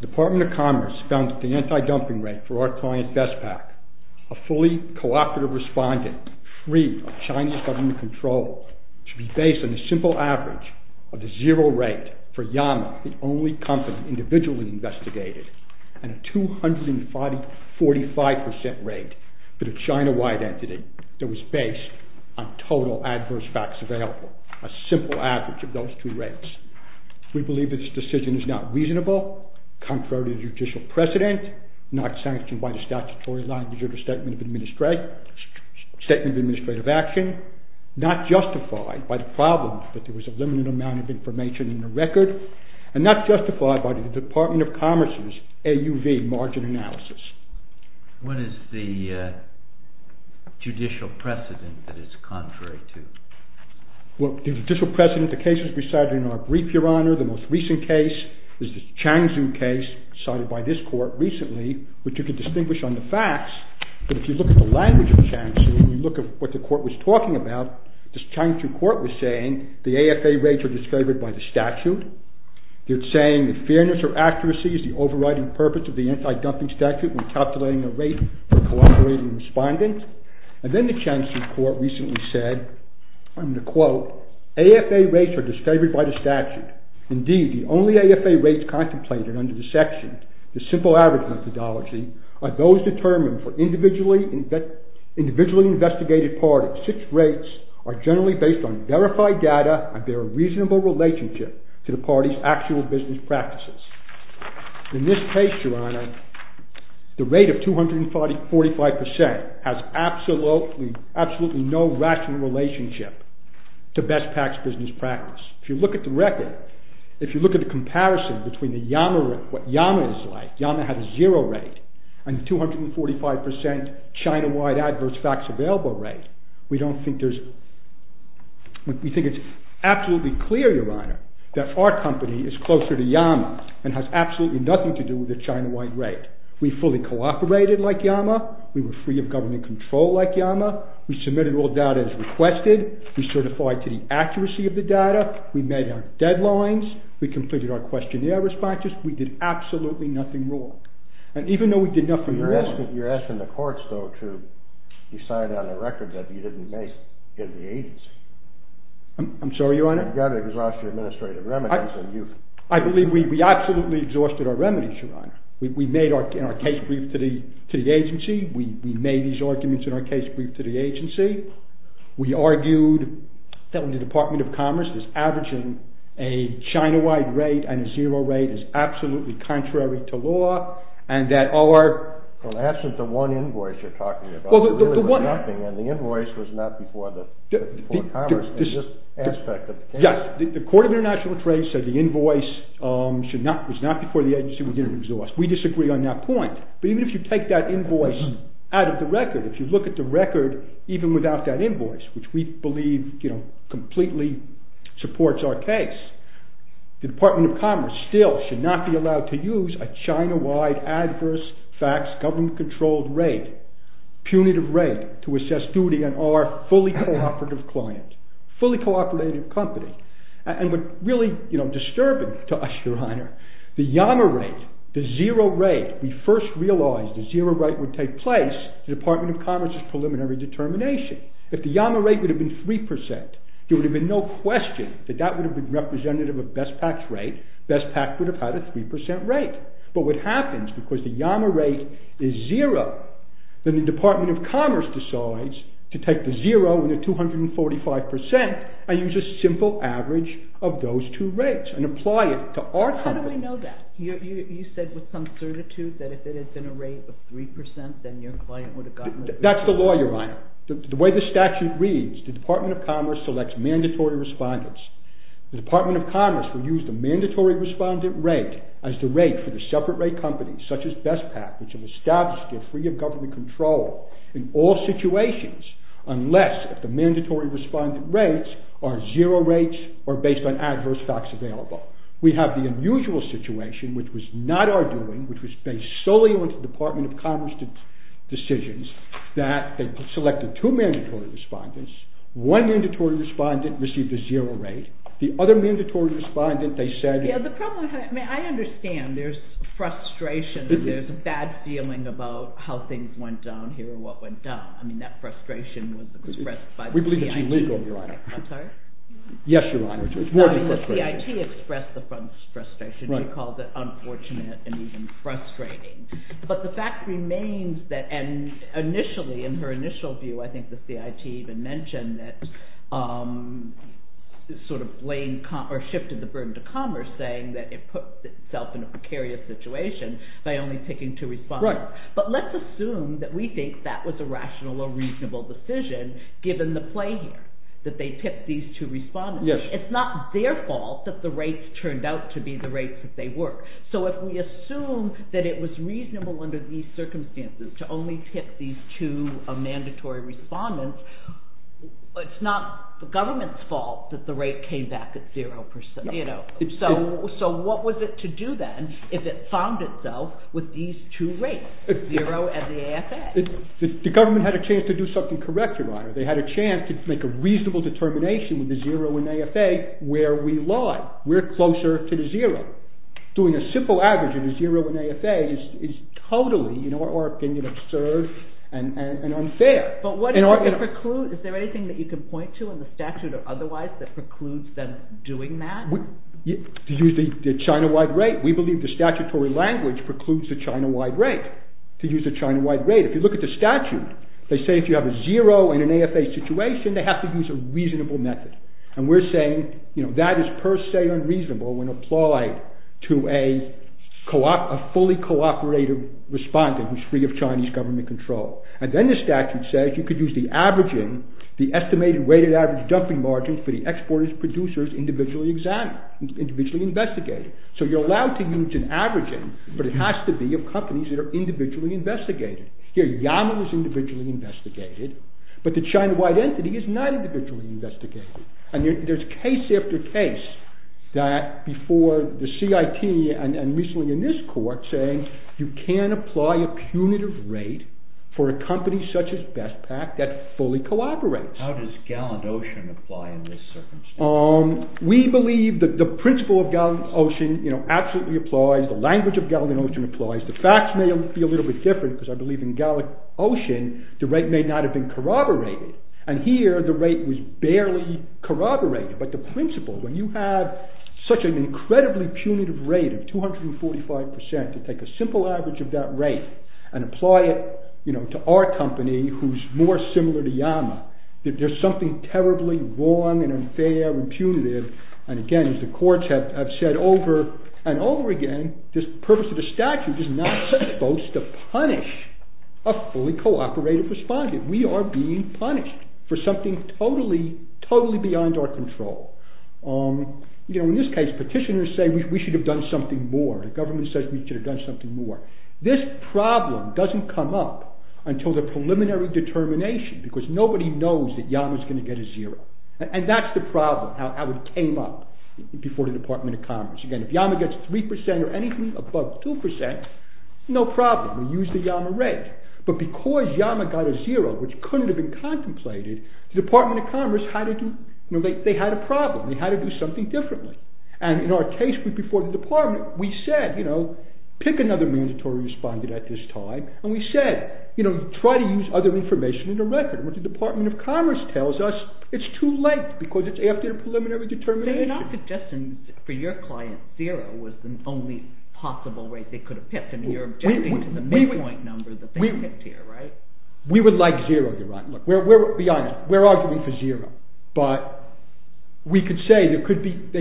Department of Commerce found that the anti-dumping rate for our client Bestpak, a fully cooperative respondent free of Chinese government control, should be based on the simple average of the zero rate for YAMA, the only company individually investigated, and a 245% rate for the China-wide entity that was based on total adverse facts available, a simple average of those two rates. We believe this decision is not reasonable, contrary to judicial precedent, not sanctioned by the statutory language of the Statement of Administrative Action, not justified by the problem that there was a limited amount of information in the record, and not justified by the Department of Commerce's AUV margin analysis. What is the judicial precedent that it's contrary to? Well, the judicial precedent, the case was decided in our brief, Your Honor. The most recent case is the CHANGZHOU case decided by this court recently, which you can distinguish on the facts, but if you look at the language of CHANGZHOU, you look at what the court was talking about, this CHANGZHOU court was saying the AFA rates are disfavored by the statute. They're saying that fairness or accuracy is the overriding purpose of the anti-dumping statute when calculating a rate for a cooperating respondent. And then the CHANGZHOU court recently said, I'm going to quote, AFA rates are disfavored by the statute. Indeed, the only AFA rates contemplated under the section, the simple average methodology, are those determined for individually investigated parties. Such rates are generally based on verified data and bear a reasonable relationship to the party's actual business practices. In this case, Your Honor, the rate of 245% has absolutely no rational relationship to best practice business practice. If you look at the record, if you look at the comparison between what YAMA is like, YAMA had a zero rate, and 245% China-wide adverse facts available rate, we think it's absolutely clear, Your Honor, that our company is closer to YAMA and has absolutely nothing to do with the China-wide rate. We fully cooperated like YAMA, we were free of government control like YAMA, we submitted all data as requested, we certified to the accuracy of the data, we made our deadlines, we completed our questionnaire responses, we did absolutely nothing wrong. You're asking the courts, though, to decide on a record that you didn't make in the agency. I'm sorry, Your Honor? You've got to exhaust your administrative remedies. I believe we absolutely exhausted our remedies, Your Honor. We made our case brief to the agency, we made these arguments in our case brief to the agency, we argued that when the Department of Commerce is averaging a China-wide rate and a zero rate is absolutely contrary to law, and that our... Well, in the absence of one invoice you're talking about, there really was nothing, and the invoice was not before Commerce in this aspect of the case. Yes, the Court of International Trade said the invoice was not before the agency, we didn't exhaust. We disagree on that point, but even if you take that invoice out of the record, if you look at the record even without that invoice, which we believe completely supports our case, the Department of Commerce still should not be allowed to use a China-wide adverse facts government-controlled rate, punitive rate, to assess duty on our fully cooperative client, fully cooperative company. And what's really disturbing to us, Your Honor, the Yama rate, the zero rate, we first realized the zero rate would take place, the Department of Commerce's preliminary determination. If the Yama rate would have been 3%, there would have been no question that that would have been representative of BestPak's rate, BestPak would have had a 3% rate. But what happens, because the Yama rate is zero, then the Department of Commerce decides to take the zero and the 245%, and use a simple average of those two rates, and apply it to our company. How do we know that? You said with some certitude that if it had been a rate of 3%, then your client would have gotten... such as BestPak, which have established they're free of government control in all situations, unless the mandatory respondent rates are zero rates, or based on adverse facts available. We have the unusual situation, which was not our doing, which was based solely on the Department of Commerce decisions, that they selected two mandatory respondents, one mandatory respondent received a zero rate, the other mandatory respondent, they said... I understand there's frustration, there's a bad feeling about how things went down here, or what went down, I mean that frustration was expressed by the CIT. We believe it's illegal, Your Honor. I'm sorry? Yes, Your Honor. The CIT expressed the frustration, you called it unfortunate and even frustrating. But the fact remains that, and initially, in her initial view, I think the CIT even mentioned that, sort of blamed, or shifted the burden to Commerce, saying that it puts itself in a precarious situation by only taking two respondents. But let's assume that we think that was a rational or reasonable decision, given the play here, that they tipped these two respondents. It's not their fault that the rates turned out to be the rates that they were. So if we assume that it was reasonable under these circumstances to only tip these two mandatory respondents, it's not the government's fault that the rate came back at zero percent. So what was it to do then, if it found itself with these two rates, zero and the AFA? The government had a chance to do something correct, Your Honor. They had a chance to make a reasonable determination with the zero and AFA where we lied. We're closer to the zero. Doing a simple average of the zero and AFA is totally, in our opinion, absurd and unfair. But is there anything that you can point to in the statute or otherwise that precludes them doing that? To use the China-wide rate. We believe the statutory language precludes the China-wide rate. To use the China-wide rate. If you look at the statute, they say if you have a zero and an AFA situation, they have to use a reasonable method. And we're saying, you know, that is per se unreasonable when applied to a fully cooperative respondent who's free of Chinese government control. And then the statute says you could use the averaging, the estimated weighted average dumping margin for the exporters, producers individually examined, individually investigated. So you're allowed to use an averaging, but it has to be of companies that are individually investigated. Here, Yama was individually investigated, but the China-wide entity is not individually investigated. And there's case after case that before the CIT and recently in this court saying you can apply a punitive rate for a company such as BestPak that fully collaborates. How does Gallant Ocean apply in this circumstance? We believe that the principle of Gallant Ocean absolutely applies. The language of Gallant Ocean applies. The facts may be a little bit different because I believe in Gallant Ocean, the rate may not have been corroborated. And here, the rate was barely corroborated. But the principle, when you have such an incredibly punitive rate of 245% to take a simple average of that rate and apply it, you know, to our company who's more similar to Yama, there's something terribly wrong and unfair and punitive. And again, as the courts have said over and over again, this purpose of the statute is not supposed to punish a fully cooperative respondent. We are being punished for something totally, totally beyond our control. You know, in this case, petitioners say we should have done something more. The government says we should have done something more. This problem doesn't come up until the preliminary determination because nobody knows that Yama's going to get a zero. And that's the problem, how it came up before the Department of Commerce. Again, if Yama gets 3% or anything above 2%, no problem. We use the Yama rate. But because Yama got a zero, which couldn't have been contemplated, the Department of Commerce had to do, you know, they had a problem. They had to do something differently. And in our case before the department, we said, you know, pick another mandatory respondent at this time. And we said, you know, try to use other information in the record. But the Department of Commerce tells us it's too late because it's after the preliminary determination. They're not suggesting for your client zero was the only possible rate they could have picked. And you're objecting to the midpoint number that they picked here, right? We would like zero, you're right. Be honest. We're arguing for zero. But we could say they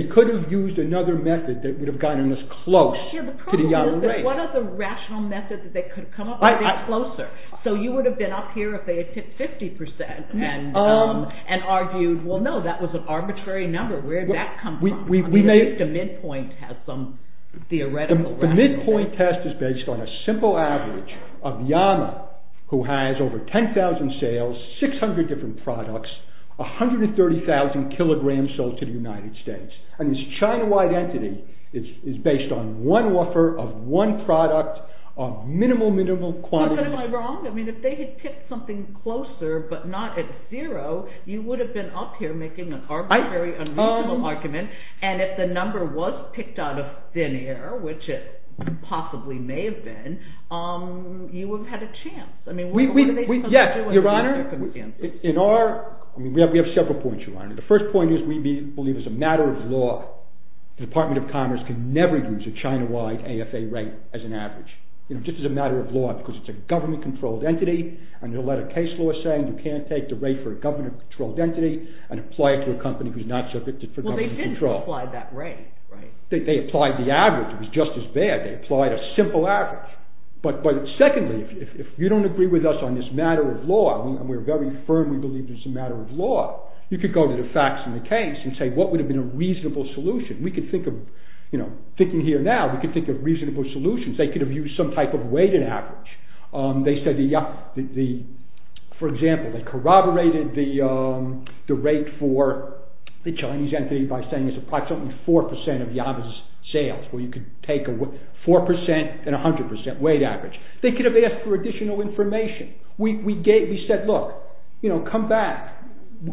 could have used another method that would have gotten us close to the Yama rate. The problem is, what are the rational methods that they could have come up with closer? So you would have been up here if they had picked 50% and argued, well, no, that was an arbitrary number. Where did that come from? The midpoint test has some theoretical rationale. The midpoint test is based on a simple average of Yama, who has over 10,000 sales, 600 different products, 130,000 kilograms sold to the United States. And this China-wide entity is based on one offer of one product of minimal, minimal quantity. Am I wrong? I mean, if they had picked something closer but not at zero, you would have been up here making an arbitrary, unreasonable argument. And if the number was picked out of thin air, which it possibly may have been, you would have had a chance. I mean, where do they come from? Your Honor, we have several points, Your Honor. The first point is we believe as a matter of law the Department of Commerce can never use a China-wide AFA rate as an average. You know, just as a matter of law, because it's a government-controlled entity. And there's a lot of case law saying you can't take the rate for a government-controlled entity and apply it to a company who's not subjected to government control. Well, they did apply that rate, right? They applied the average. It was just as bad. They applied a simple average. But secondly, if you don't agree with us on this matter of law, and we're very firm we believe this is a matter of law, you could go to the facts in the case and say, what would have been a reasonable solution? We could think of, you know, thinking here now, we could think of reasonable solutions. They could have used some type of weighted average. They said the, for example, they corroborated the rate for the Chinese entity by saying it's approximately 4% of Yaba's sales, where you could take a 4% and 100% weight average. They could have asked for additional information. We gave, we said, look, you know, come back.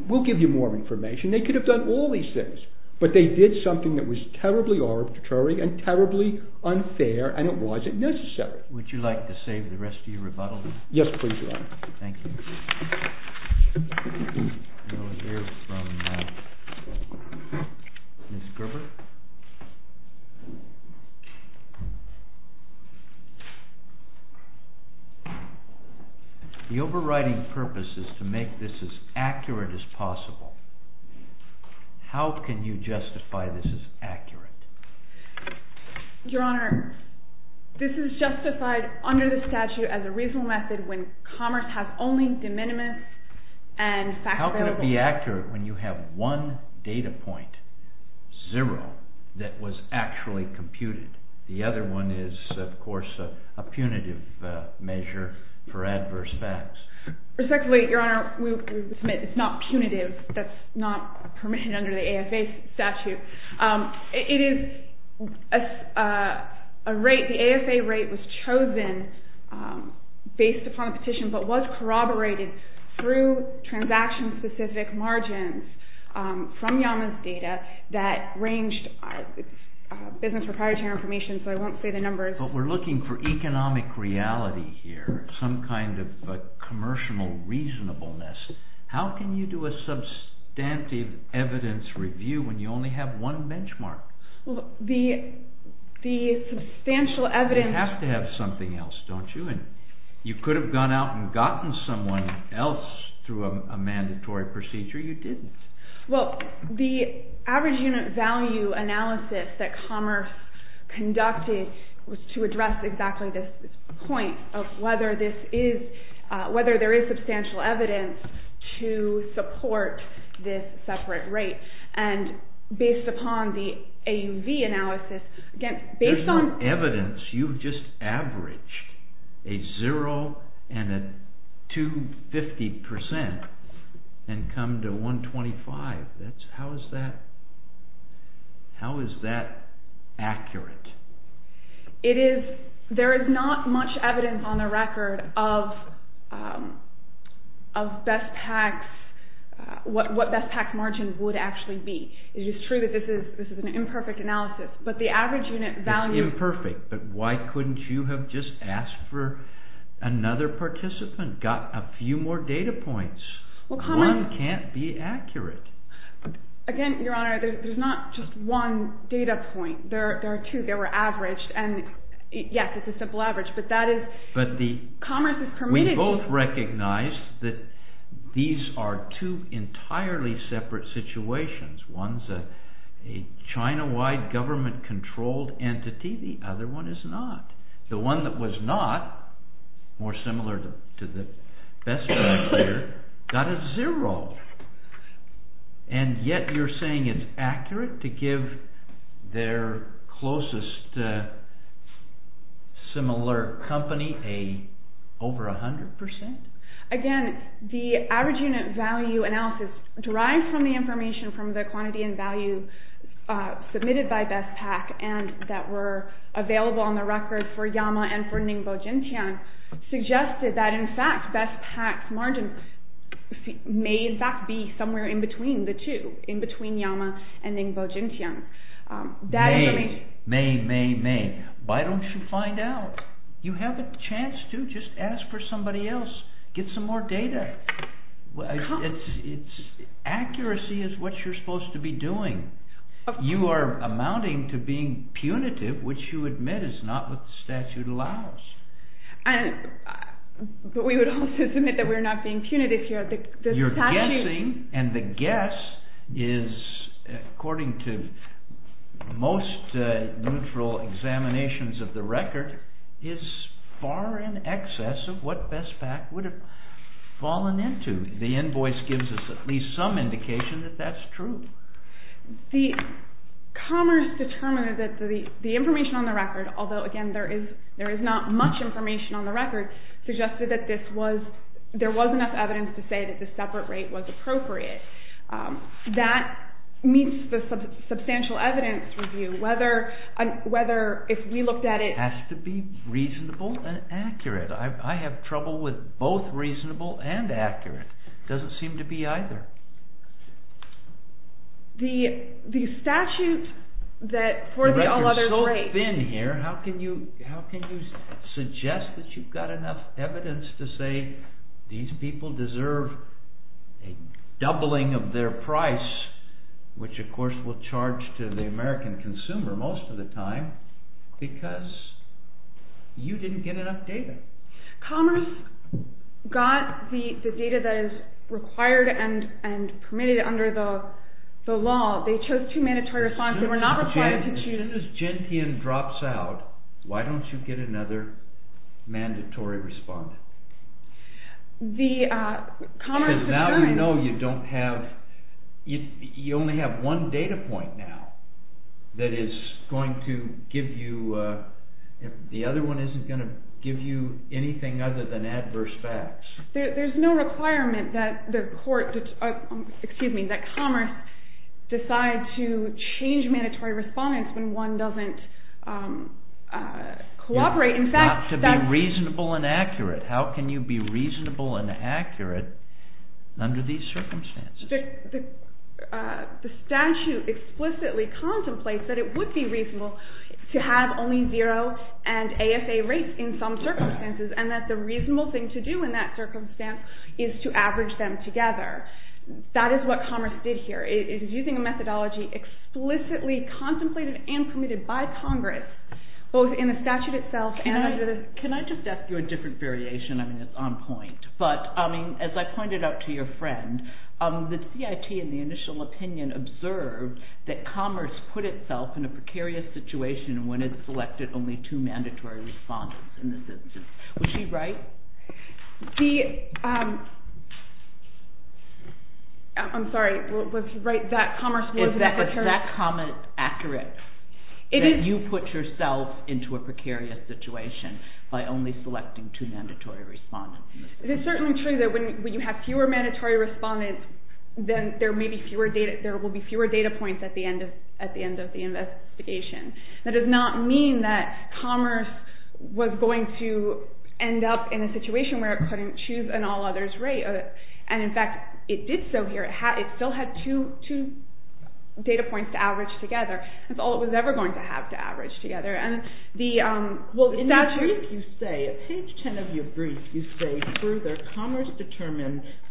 We'll give you more information. They could have done all these things. But they did something that was terribly arbitrary and terribly unfair, and it wasn't necessary. Would you like to save the rest of your rebuttal? Yes, please, Your Honor. Thank you. The overriding purpose is to make this as accurate as possible. How can you justify this as accurate? Your Honor, this is justified under the statute as a reasonable method when commerce has only de minimis and facts available. How can it be accurate when you have one data point, zero, that was actually computed? The other one is, of course, a punitive measure for adverse facts. Respectfully, Your Honor, we submit it's not punitive. That's not permitted under the AFA statute. It is a rate. The AFA rate was chosen based upon a petition but was corroborated through transaction-specific margins from Yama's data that ranged business proprietary information, so I won't say the numbers. But we're looking for economic reality here, some kind of commercial reasonableness. How can you do a substantive evidence review when you only have one benchmark? The substantial evidence… You have to have something else, don't you? You could have gone out and gotten someone else through a mandatory procedure. You didn't. Well, the average unit value analysis that commerce conducted was to address exactly this point of whether there is substantial evidence to support this separate rate. Based upon the AUV analysis… There's no evidence. You've just averaged a zero and a 250% and come to 125%. How is that accurate? There is not much evidence on the record of what BestPacks margin would actually be. It is true that this is an imperfect analysis, but the average unit value… It's imperfect, but why couldn't you have just asked for another participant, got a few more data points? One can't be accurate. Again, Your Honor, there's not just one data point. There are two. They were averaged. Yes, it's a simple average, but that is commerce's permittivity. We both recognize that these are two entirely separate situations. One is a China-wide government-controlled entity, the other one is not. The one that was not, more similar to the BestPacks here, got a zero, and yet you're saying it's accurate to give their closest similar company over 100%? Again, the average unit value analysis derives from the information from the quantity and value submitted by BestPack and that were available on the record for Yama and for Ningbo Jintian, suggested that in fact BestPacks margin may in fact be somewhere in between the two, in between Yama and Ningbo Jintian. May, may, may, may. Why don't you find out? You have a chance to. Just ask for somebody else. Get some more data. Accuracy is what you're supposed to be doing. You are amounting to being punitive, which you admit is not what the statute allows. But we would also submit that we're not being punitive here. You're guessing, and the guess is according to most neutral examinations of the record, is far in excess of what BestPack would have fallen into. The invoice gives us at least some indication that that's true. The commerce determined that the information on the record, although again there is not much information on the record, suggested that there was enough evidence to say that the separate rate was appropriate. That meets the substantial evidence review, whether if we looked at it... It has to be reasonable and accurate. I have trouble with both reasonable and accurate. It doesn't seem to be either. The statute for the all others rate... You're so thin here, how can you suggest that you've got enough evidence to say these people deserve a doubling of their price, which of course will charge to the American consumer most of the time, because you didn't get enough data. Commerce got the data that is required and permitted under the law. They chose two mandatory respondents. As soon as Gentian drops out, why don't you get another mandatory respondent? Because now we know you only have one data point now that is going to give you... The other one isn't going to give you anything other than adverse facts. There's no requirement that commerce decide to change mandatory respondents when one doesn't cooperate. How can you be reasonable and accurate under these circumstances? The statute explicitly contemplates that it would be reasonable to have only zero and ASA rates in some circumstances, and that the reasonable thing to do in that circumstance is to average them together. That is what commerce did here. It is using a methodology explicitly contemplated and permitted by Congress, both in the statute itself and under the... Can I just ask you a different variation? I mean, it's on point. But as I pointed out to your friend, the CIT in the initial opinion observed that commerce put itself in a precarious situation when it selected only two mandatory respondents in this instance. Was she right? The... I'm sorry, was she right? That commerce was... Is that comment accurate? It is... That you put yourself into a precarious situation by only selecting two mandatory respondents? It is certainly true that when you have fewer mandatory respondents, then there will be fewer data points at the end of the investigation. That does not mean that commerce was going to end up in a situation where it couldn't choose an all-others rate. And in fact, it did so here. It still had two data points to average together. That's all it was ever going to have to average together. And the statute... In your brief, you say, at page 10 of your brief, you say further,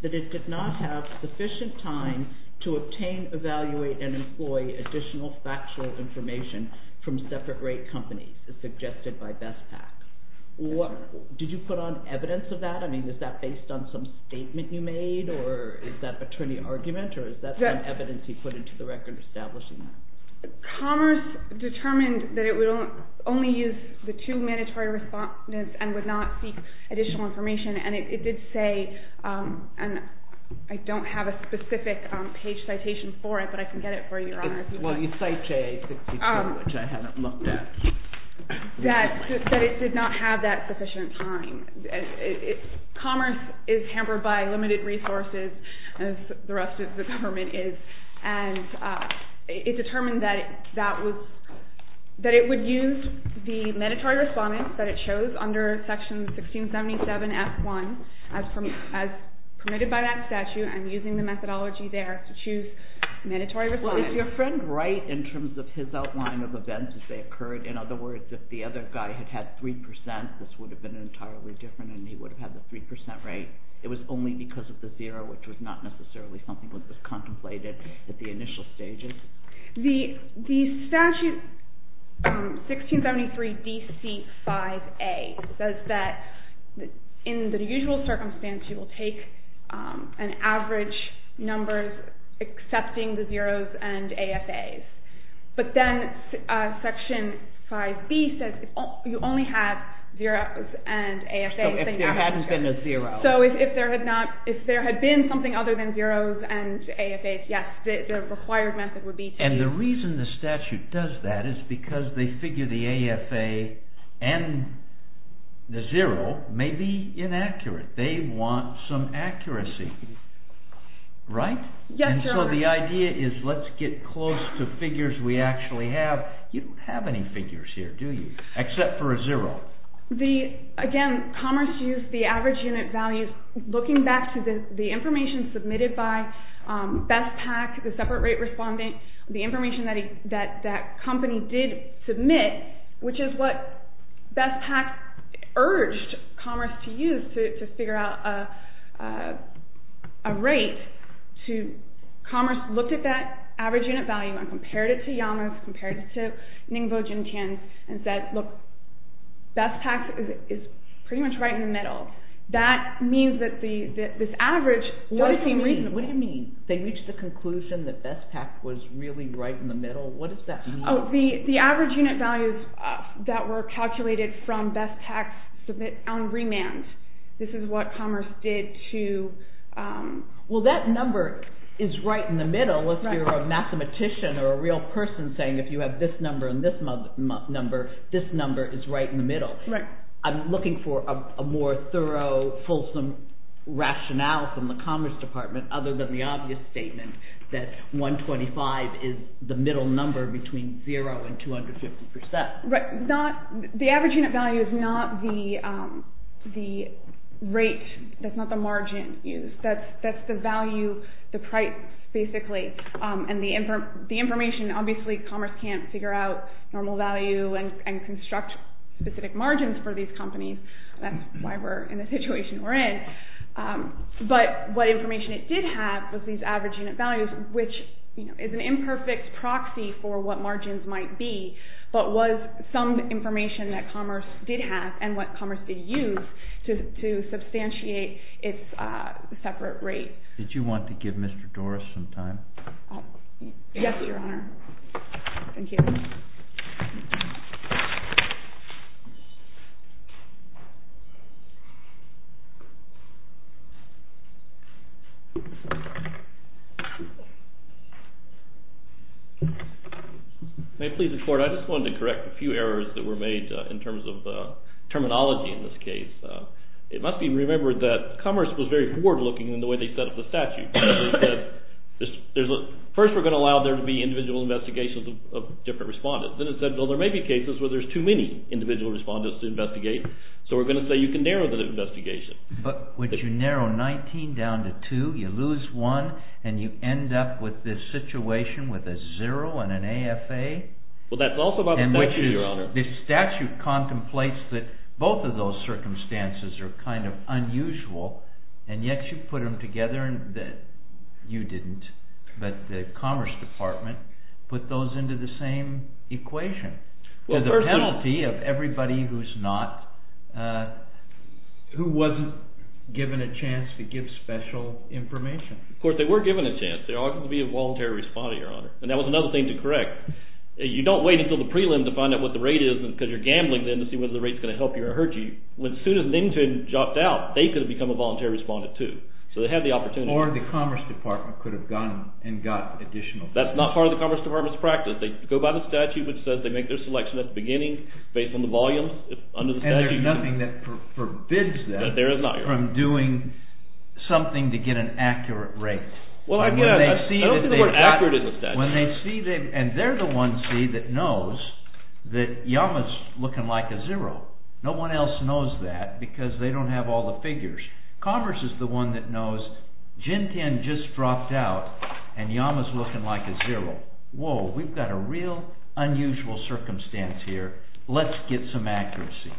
that it did not have sufficient time to obtain, evaluate, and employ additional factual information from separate rate companies, as suggested by BESPAC. Did you put on evidence of that? I mean, is that based on some statement you made, or is that attorney argument, or is that some evidence you put into the record establishing that? Commerce determined that it would only use the two mandatory respondents and would not seek additional information. And it did say, and I don't have a specific page citation for it, but I can get it for you, Your Honor. Well, you cited 68, which I hadn't looked at. That it did not have that sufficient time. Commerce is hampered by limited resources, as the rest of the government is, and it determined that it would use the mandatory respondents that it chose under section 1677F1, as permitted by that statute. I'm using the methodology there to choose mandatory respondents. Well, is your friend right in terms of his outline of events as they occurred? In other words, if the other guy had had 3%, this would have been entirely different, and he would have had the 3% rate. It was only because of the zero, which was not necessarily something that was contemplated at the initial stages? The statute 1673DC5A says that in the usual circumstance you will take an average number excepting the zeroes and AFAs. But then section 5B says you only have zeroes and AFAs. So if there hadn't been a zero. So if there had been something other than zeroes and AFAs, yes, the required method would be to... And the reason the statute does that is because they figure the AFA and the zero may be inaccurate. They want some accuracy, right? And so the idea is let's get close to figures we actually have. You don't have any figures here, do you, except for a zero? Again, Commerce used the average unit values looking back to the information submitted by BESPAC, the separate rate respondent, the information that that company did submit, which is what BESPAC urged Commerce to use to figure out a rate. Commerce looked at that average unit value and compared it to Yama's, compared it to Ningbo Jinchan's, and said, look, BESPAC is pretty much right in the middle. That means that this average doesn't seem reasonable. What do you mean? They reached the conclusion that BESPAC was really right in the middle? What does that mean? The average unit values that were calculated from BESPAC's submit on remand. This is what Commerce did to... Well, that number is right in the middle if you're a mathematician or a real person saying if you have this number and this number, this number is right in the middle. I'm looking for a more thorough, fulsome rationale from the Commerce Department other than the obvious statement that 125 is the middle number between zero and 250%. The average unit value is not the rate, that's not the margin used. That's the value, the price basically. And the information, obviously Commerce can't figure out normal value and construct specific margins for these companies. That's why we're in the situation we're in. But what information it did have was these average unit values, which is an imperfect proxy for what margins might be, but was some information that Commerce did have and what Commerce did use to substantiate its separate rate. Did you want to give Mr. Doris some time? Yes, Your Honor. Thank you. May it please the Court, I just wanted to correct a few errors that were made in terms of terminology in this case. It must be remembered that Commerce was very forward looking in the way they set up the statute. They said, first we're going to allow there to be individual investigations of different companies, then it said there may be cases where there's too many individual respondents to investigate, so we're going to say you can narrow the investigation. But would you narrow 19 down to 2, you lose 1, and you end up with this situation with a zero and an AFA? Well, that's also by the statute, Your Honor. The statute contemplates that both of those circumstances are kind of unusual, and yet you put them together, you didn't, but the Commerce Department put those into the same equation. There's a penalty of everybody who's not, who wasn't given a chance to give special information. Of course, they were given a chance. There ought to be a voluntary respondent, Your Honor. And that was another thing to correct. You don't wait until the prelim to find out what the rate is because you're gambling then to see whether the rate's going to help you or hurt you. As soon as they jumped out, they could have become a voluntary respondent too. So they had the opportunity. Or the Commerce Department could have gone and got additional. That's not part of the Commerce Department's practice. They go by the statute which says they make their selection at the beginning, based on the volume under the statute. And there's nothing that forbids them from doing something to get an accurate rate. I don't think the word accurate is in the statute. And they're the ones, see, that knows that Yama's looking like a zero. No one else knows that because they don't have all the figures. Commerce is the one that knows Jinten just dropped out and Yama's looking like a zero. Whoa, we've got a real unusual circumstance here. Let's get some accuracy.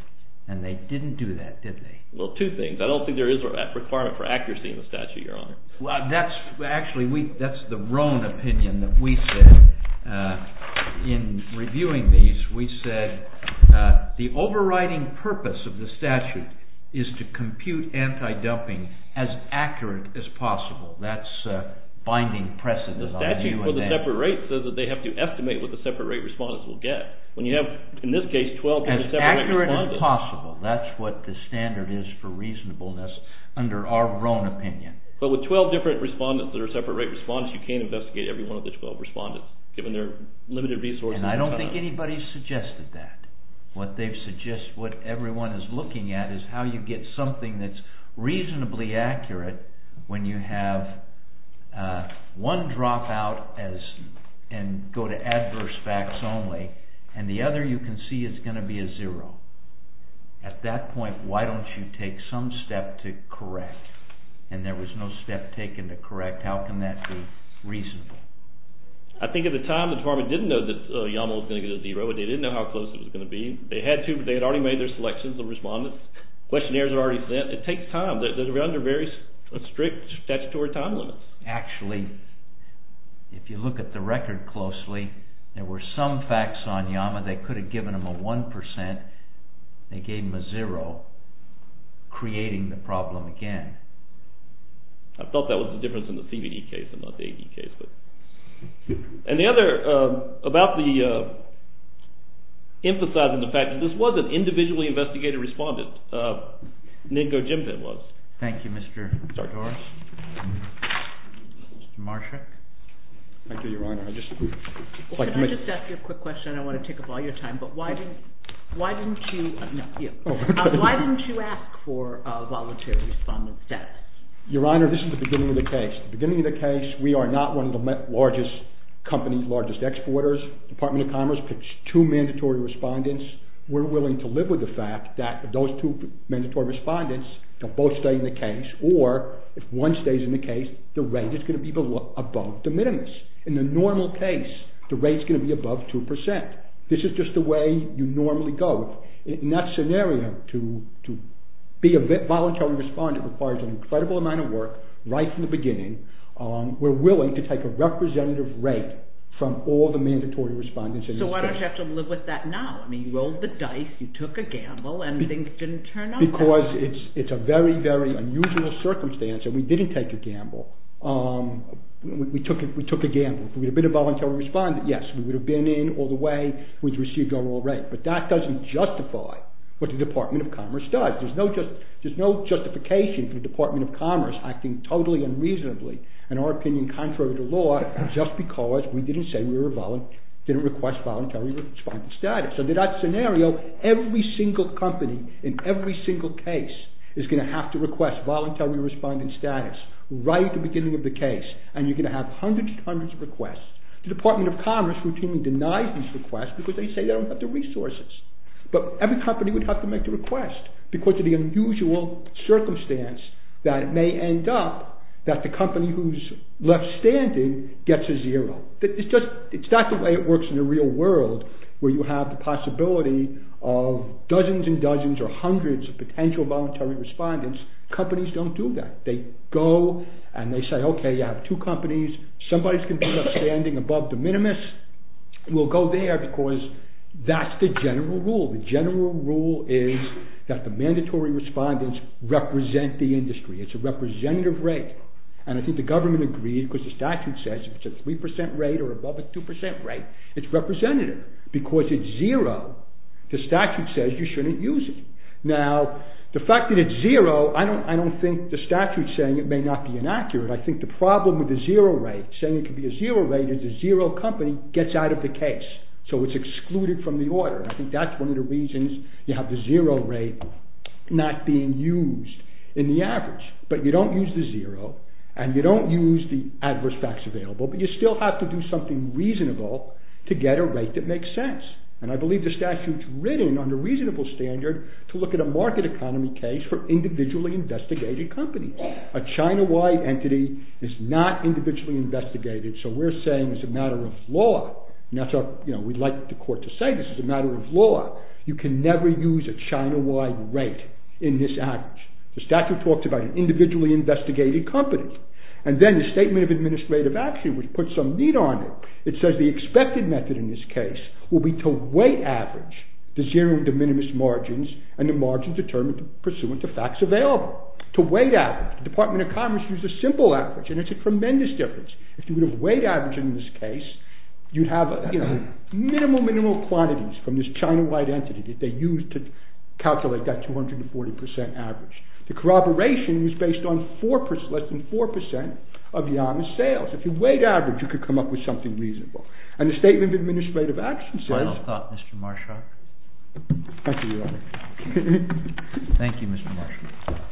And they didn't do that, did they? Well, two things. I don't think there is a requirement for accuracy in the statute, Your Honor. Well, that's actually the Roan opinion that we said in reviewing these. We said the overriding purpose of the statute is to compute anti-dumping as accurate as possible. That's binding precedent on you and them. The statute for the separate rate says that they have to estimate what the separate rate respondents will get. When you have, in this case, 12 different separate rate respondents. As accurate as possible. That's what the standard is for reasonableness under our Roan opinion. But with 12 different respondents that are separate rate respondents, you can't investigate every one of the 12 respondents given their limited resources. And I don't think anybody suggested that. What everyone is looking at is how you get something that's reasonably accurate when you have one drop out and go to adverse facts only, and the other you can see is going to be a zero. At that point, why don't you take some step to correct? And there was no step taken to correct. How can that be reasonable? I think at the time the department didn't know that YAML was going to get a zero. They didn't know how close it was going to be. They had already made their selections of respondents. Questionnaires were already sent. It takes time. They were under very strict statutory time limits. Actually, if you look at the record closely, there were some facts on YAML that could have given them a 1%. They gave them a zero, creating the problem again. I thought that was the difference in the CBD case and not the AD case. And the other about the emphasizing the fact that this was an individually investigated respondent, Ningo Jimpin was. Thank you, Mr. Doris. Mr. Marsha. Thank you, Your Honor. Can I just ask you a quick question? I don't want to take up all your time, but why didn't you ask for a voluntary respondent status? Your Honor, this is the beginning of the case. The beginning of the case, we are not one of the largest companies, largest exporters. Department of Commerce picks two mandatory respondents. We're willing to live with the fact that if those two mandatory respondents don't both stay in the case, or if one stays in the case, the rate is going to be above the minimums. In the normal case, the rate is going to be above 2%. This is just the way you normally go. In that scenario, to be a voluntary respondent requires an incredible amount of work right from the beginning. We're willing to take a representative rate from all the mandatory respondents. So why don't you have to live with that now? I mean, you rolled the dice, you took a gamble, and things didn't turn out that way. Because it's a very, very unusual circumstance, and we didn't take a gamble. We took a gamble. If we had been a voluntary respondent, yes, we would have been in all the way. But that doesn't justify what the Department of Commerce does. There's no justification for the Department of Commerce acting totally unreasonably, in our opinion, contrary to law, just because we didn't say we didn't request voluntary respondent status. So in that scenario, every single company in every single case is going to have to request voluntary respondent status right at the beginning of the case. And you're going to have hundreds and hundreds of requests. The Department of Commerce routinely denies these requests because they say they don't have the resources. But every company would have to make the request because of the unusual circumstance that it may end up that the company who's left standing gets a zero. It's not the way it works in the real world, where you have the possibility of dozens and dozens or hundreds of potential voluntary respondents. Companies don't do that. They go and they say, okay, you have two companies. Somebody's going to end up standing above the minimus. We'll go there because that's the general rule. The general rule is that the mandatory respondents represent the industry. It's a representative rate. And I think the government agreed because the statute says it's a 3% rate or above a 2% rate. It's representative because it's zero. The statute says you shouldn't use it. Now, the fact that it's zero, I don't think the statute's saying it may not be inaccurate. I think the problem with the zero rate, saying it could be a zero rate is a zero company gets out of the case. So it's excluded from the order. I think that's one of the reasons you have the zero rate not being used in the average. But you don't use the zero and you don't use the adverse facts available, but you still have to do something reasonable to get a rate that makes sense. And I believe the statute's written on a reasonable standard to look at a market economy case for individually investigated companies. A China-wide entity is not individually investigated, so we're saying it's a matter of law. We'd like the court to say this is a matter of law. You can never use a China-wide rate in this average. The statute talks about an individually investigated company. And then the Statement of Administrative Action, which puts some meat on it, it says the expected method in this case will be to weight average the zero and de minimis margins and the margins determined pursuant to facts available. To weight average. The Department of Commerce used a simple average and it's a tremendous difference. If you would have weight averaged in this case, you'd have minimal, minimal quantities from this China-wide entity that they used to calculate that 240% average. The corroboration was based on less than 4% of Yang's sales. If you weight averaged, you could come up with something reasonable. And the Statement of Administrative Action says... Final thought, Mr. Marshak. Thank you, Your Honor. Thank you, Mr. Marshak.